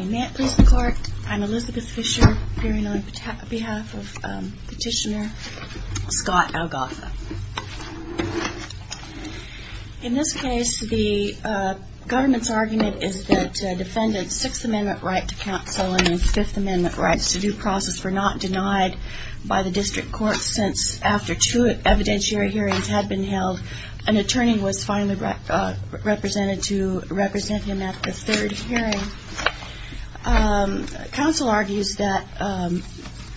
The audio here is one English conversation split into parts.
May it please the Court, I'm Elizabeth Fisher appearing on behalf of Petitioner Scott Algafa. In this case, the government's argument is that Defendant's Sixth Amendment right to counsel and his Fifth Amendment rights to due process were not denied by the District Court since, after two evidentiary hearings had been held, an attorney was finally represented to represent him at the third hearing. Counsel argues that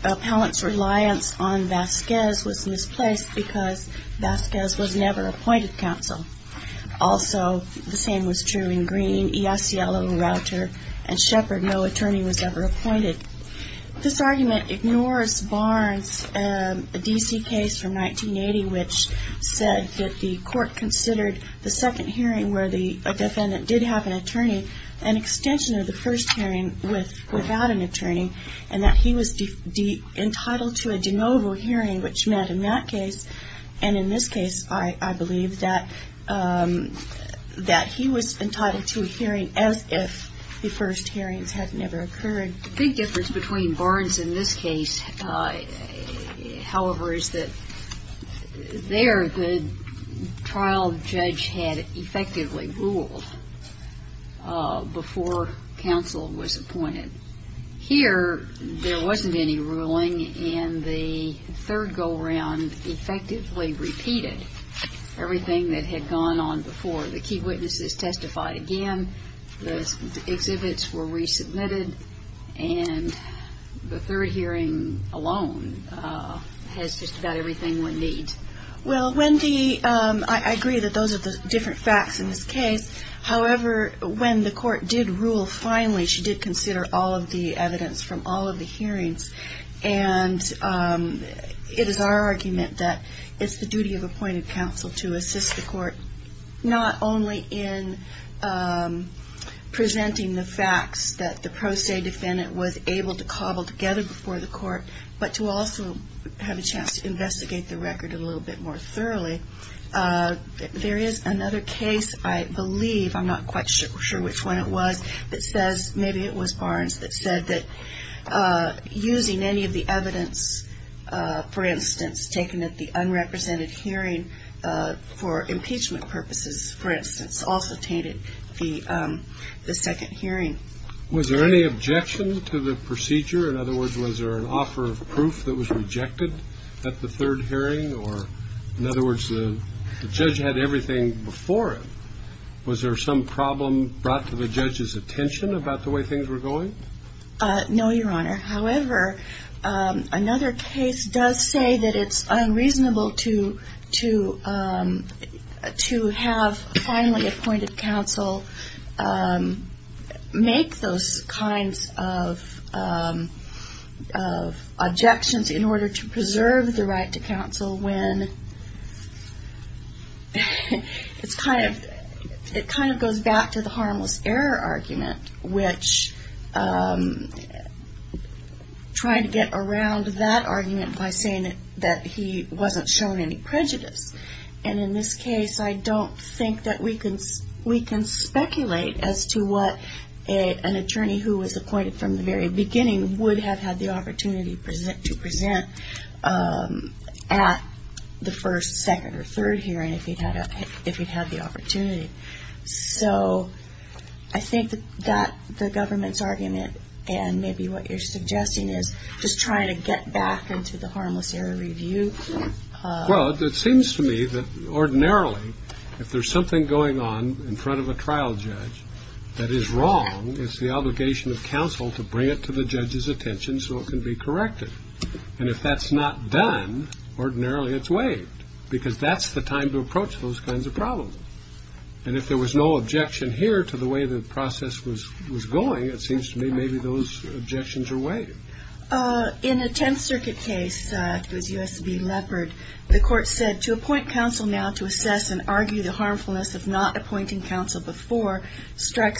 Appellant's reliance on Vasquez was misplaced because Vasquez was never appointed counsel. Also, the same was true in Green, Iasiello, Rauter, and Shepard. No attorney was ever appointed. This argument ignores Barnes' D.C. case from 1980, which said that the Court considered the second hearing where the defendant did have an attorney an extension of the first hearing without an attorney, and that he was entitled to a de novo hearing, which meant in that case, and in this case, I believe, that he was entitled to a hearing as if the first hearings had never occurred. The big difference between Barnes' and this case, however, is that there, the trial judge had effectively ruled before counsel was appointed. Here, there wasn't any ruling, and the third go-around effectively repeated everything that had gone on before. The key witnesses testified again, the exhibits were resubmitted, and the third hearing alone has just about everything one needs. Well, Wendy, I agree that those are the different facts in this case. However, when the Court did rule finally, she did consider all of the evidence from all of the hearings, and it is our argument that it's the duty of appointed counsel to assist the Court, not only in presenting the facts that the pro se defendant was able to cobble together before the Court, but to also have a chance to investigate the record a little bit more thoroughly. There is another case, I believe, I'm not quite sure which one it was, that says, maybe it was Barnes, that said that using any of the evidence, for instance, taken at the unrepresented hearing for impeachment purposes, for instance, also tainted the second hearing. Was there any objection to the procedure? In other words, was there an offer of proof that was rejected at the third hearing? Or, in other words, the judge had everything before it. Was there some problem brought to the judge's attention about the way things were going? No, Your Honor. However, another case does say that it's unreasonable to have finally appointed counsel make those kinds of objections in order to preserve the right to counsel when it kind of goes back to the harmless error argument, which tried to get around that argument by saying that he wasn't shown any prejudice. And in this case, I don't think that we can speculate as to what an attorney who was appointed from the very beginning would have had the opportunity to present at the first, second, or third hearing if he'd had the opportunity. So I think that the government's argument, and maybe what you're suggesting is just trying to get back into the harmless error review. Well, it seems to me that, ordinarily, if there's something going on in front of a trial judge that is wrong, it's the obligation of counsel to bring it to the judge's attention so it can be corrected. And if that's not done, ordinarily it's waived, because that's the time to approach those kinds of problems. And if there was no objection here to the way the process was going, it seems to me maybe those objections are waived. In a Tenth Circuit case, it was U.S. v. Leopard, the court said, to appoint counsel now to strike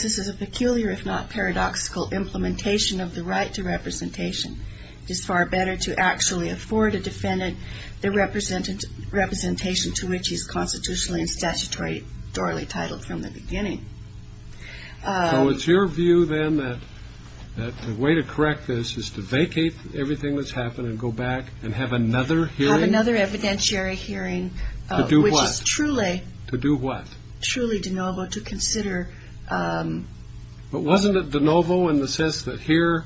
this as a peculiar, if not paradoxical, implementation of the right to representation. It is far better to actually afford a defendant the representation to which he is constitutionally and statutorily titled from the beginning. So it's your view, then, that the way to correct this is to vacate everything that's happened and go back and have another hearing? Have another evidentiary hearing. To do what? Which is truly... To do what? Truly de novo, to consider... But wasn't it de novo in the sense that here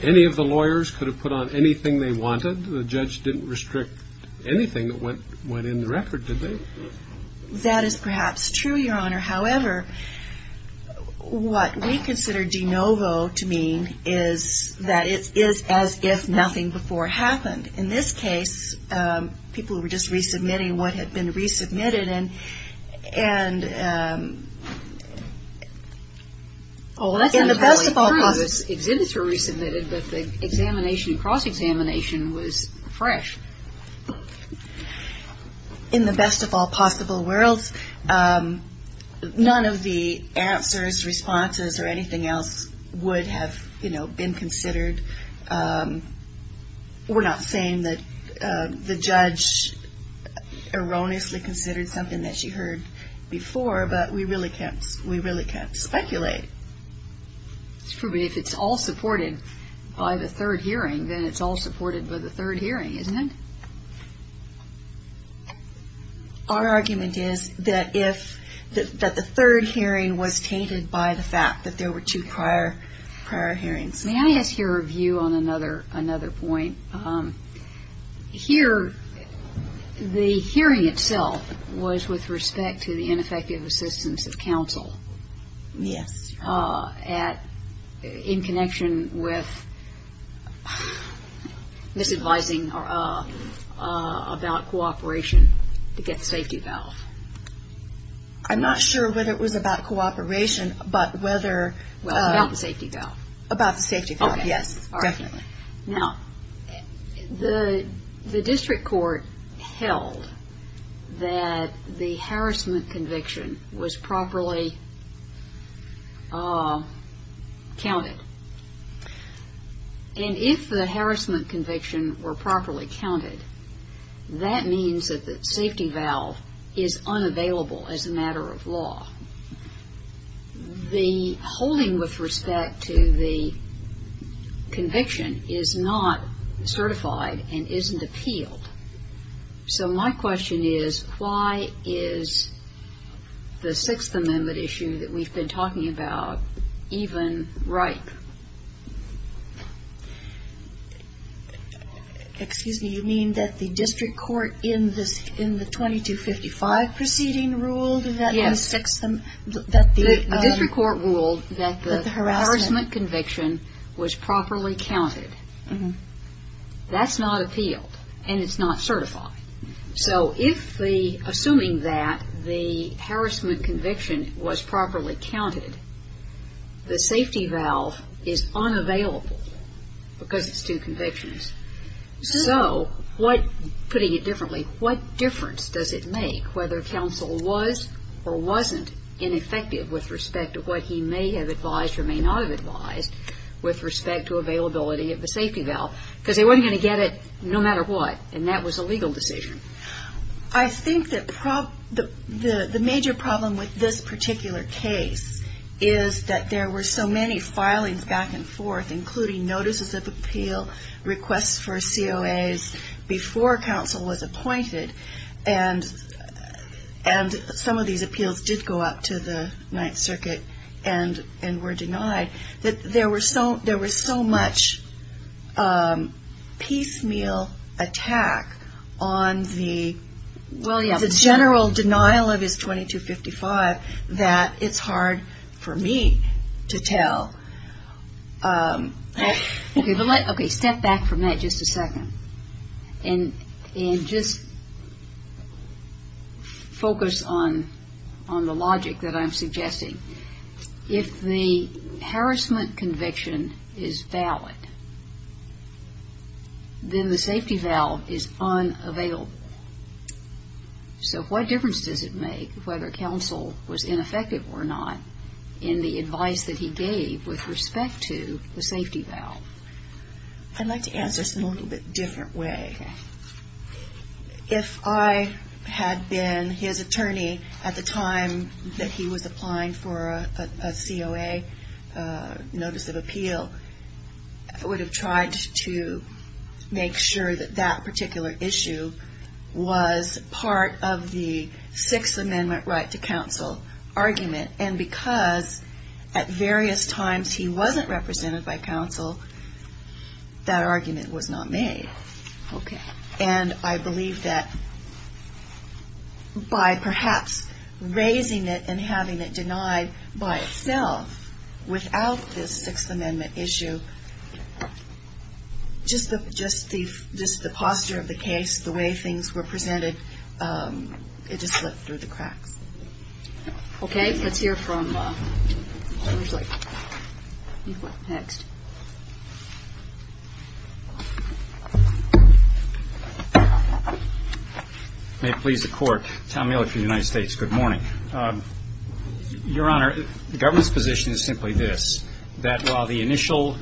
any of the lawyers could have put on anything they wanted? The judge didn't restrict anything that went in the record, did they? That is perhaps true, Your Honor. However, what we consider de novo to mean is that it is as if nothing before happened. In this case, people were just resubmitting what had been resubmitted. Well, that's entirely true. Exhibits were resubmitted, but the examination and cross-examination was fresh. In the best of all possible worlds, none of the answers, responses, or anything else would have been considered. We're not saying that the judge erroneously considered the case or erroneously considered something that she heard before, but we really can't speculate. It's true, but if it's all supported by the third hearing, then it's all supported by the third hearing, isn't it? Our argument is that the third hearing was tainted by the fact that there were two prior hearings. May I ask your view on another point? Here, the hearing itself is a case of the hearing itself was with respect to the ineffective assistance of counsel in connection with misadvising about cooperation to get the safety valve. I'm not sure whether it was about cooperation, but whether About the safety valve. About the safety valve, yes, definitely. Now, the district court held that the harassment conviction was properly counted, and if the harassment conviction were properly counted, that means that the safety valve is unavailable and the holding with respect to the conviction is not certified and isn't appealed. So my question is, why is the Sixth Amendment issue that we've been talking about even ripe? Excuse me, you mean that the district court in the 2255 proceeding ruled that the harassment conviction was properly counted? That's not appealed, and it's not certified. So assuming that the harassment conviction was properly counted, the safety valve is unavailable because it's two convictions. So what, putting it differently, what difference does it make whether counsel was or wasn't ineffective with respect to what he may have advised or may not have advised with respect to availability of the safety valve? Because they weren't going to get it no matter what, and that was a legal decision. I think that the major problem with this particular case is that there were so many filings back and forth, including notices of appeal, requests for COAs before counsel was appointed, and some of these appeals did go up to the Ninth Circuit and were denied, that there was so much piecemeal attack on the general denial of his 2255 that it's hard for me to tell. Step back from that just a second, and just focus on the logic that I'm suggesting. If the harassment conviction is valid, then the safety valve is unavailable. So what difference does it make whether counsel was ineffective or not in the advice that he gave with respect to the safety valve? I'd like to answer this in a little bit different way. If I had been his attorney at the time that he was applying for a COA notice of appeal, I would have tried to make sure that that particular issue was part of the Sixth Amendment right to counsel argument, and because at various times he wasn't represented by counsel, that argument was not made. And I believe that by perhaps raising it and having it denied by itself without this Sixth Amendment issue, just the posture of the case, the way things were presented, it just slipped through the cracks. Okay, let's hear from, who's next? May it please the Court, Tom Miller from the United States, good morning. Your Honor, the government's position is simply this, that while the initial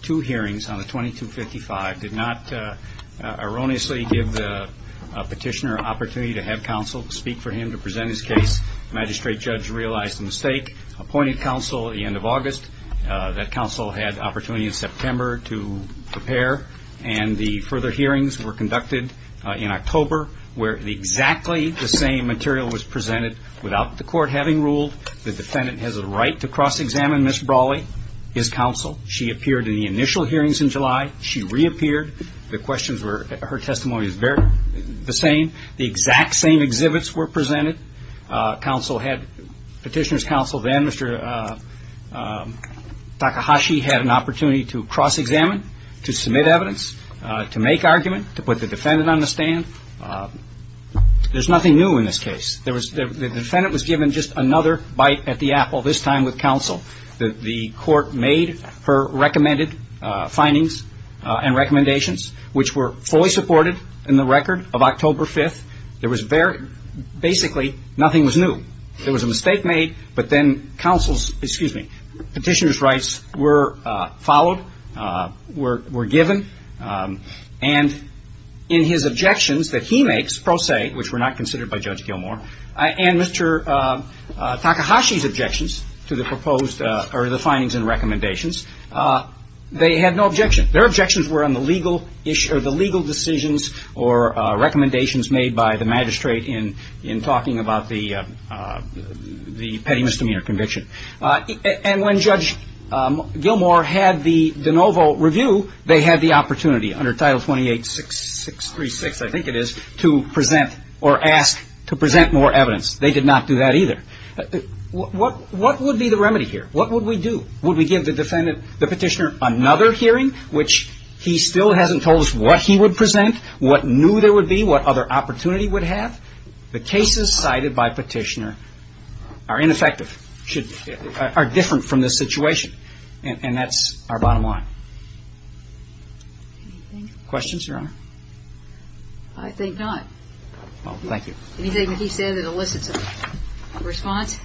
two hearings on the 2255 did not erroneously give the petitioner an opportunity to have counsel speak for him to present his case, the magistrate judge realized the mistake, appointed counsel at the end of August, that counsel had the opportunity in September to prepare, and the further hearings were conducted in October, where exactly the same material was presented without the Court having ruled the defendant has a right to cross-examine Ms. Brawley, his counsel. She appeared in the initial hearings in July. She reappeared. The questions were, her testimony was the same. The exact same exhibits were presented. Petitioner's counsel then, Mr. Hashi, had an opportunity to cross-examine, to submit evidence, to make argument, to put the defendant on the stand. There's nothing new in this case. The defendant was given just another bite at the apple, this time with counsel. The Court made her recommended findings and recommendations, which were fully supported in the record of October 5th. There was very, basically nothing was new. There was a mistake made, but then counsel's, excuse me, were followed, were given, and in his objections that he makes, pro se, which were not considered by Judge Gilmour, and Mr. Takahashi's objections to the proposed, or the findings and recommendations, they had no objection. Their objections were on the legal decisions or recommendations made by the magistrate in talking about the petty misdemeanor conviction. And when Judge Gilmour had the de novo review, they had the opportunity, under Title 28-6636, I think it is, to present, or ask to present more evidence. They did not do that either. What would be the remedy here? What would we do? Would we give the defendant, the petitioner, another hearing, which he still hasn't told us what he would present, what new there would be? Are different from this situation. And that's our bottom line. Questions, Your Honor? I think not. Well, thank you. Anything that he said that elicits a response?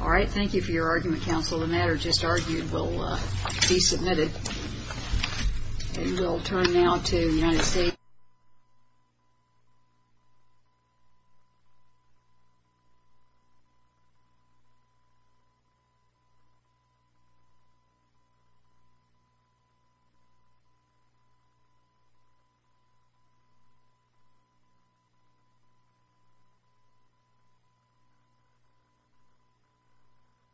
All right. Thank you for your argument, counsel. The matter just argued will be submitted. And we'll turn now to the United States Attorney General, Judge Gilmour.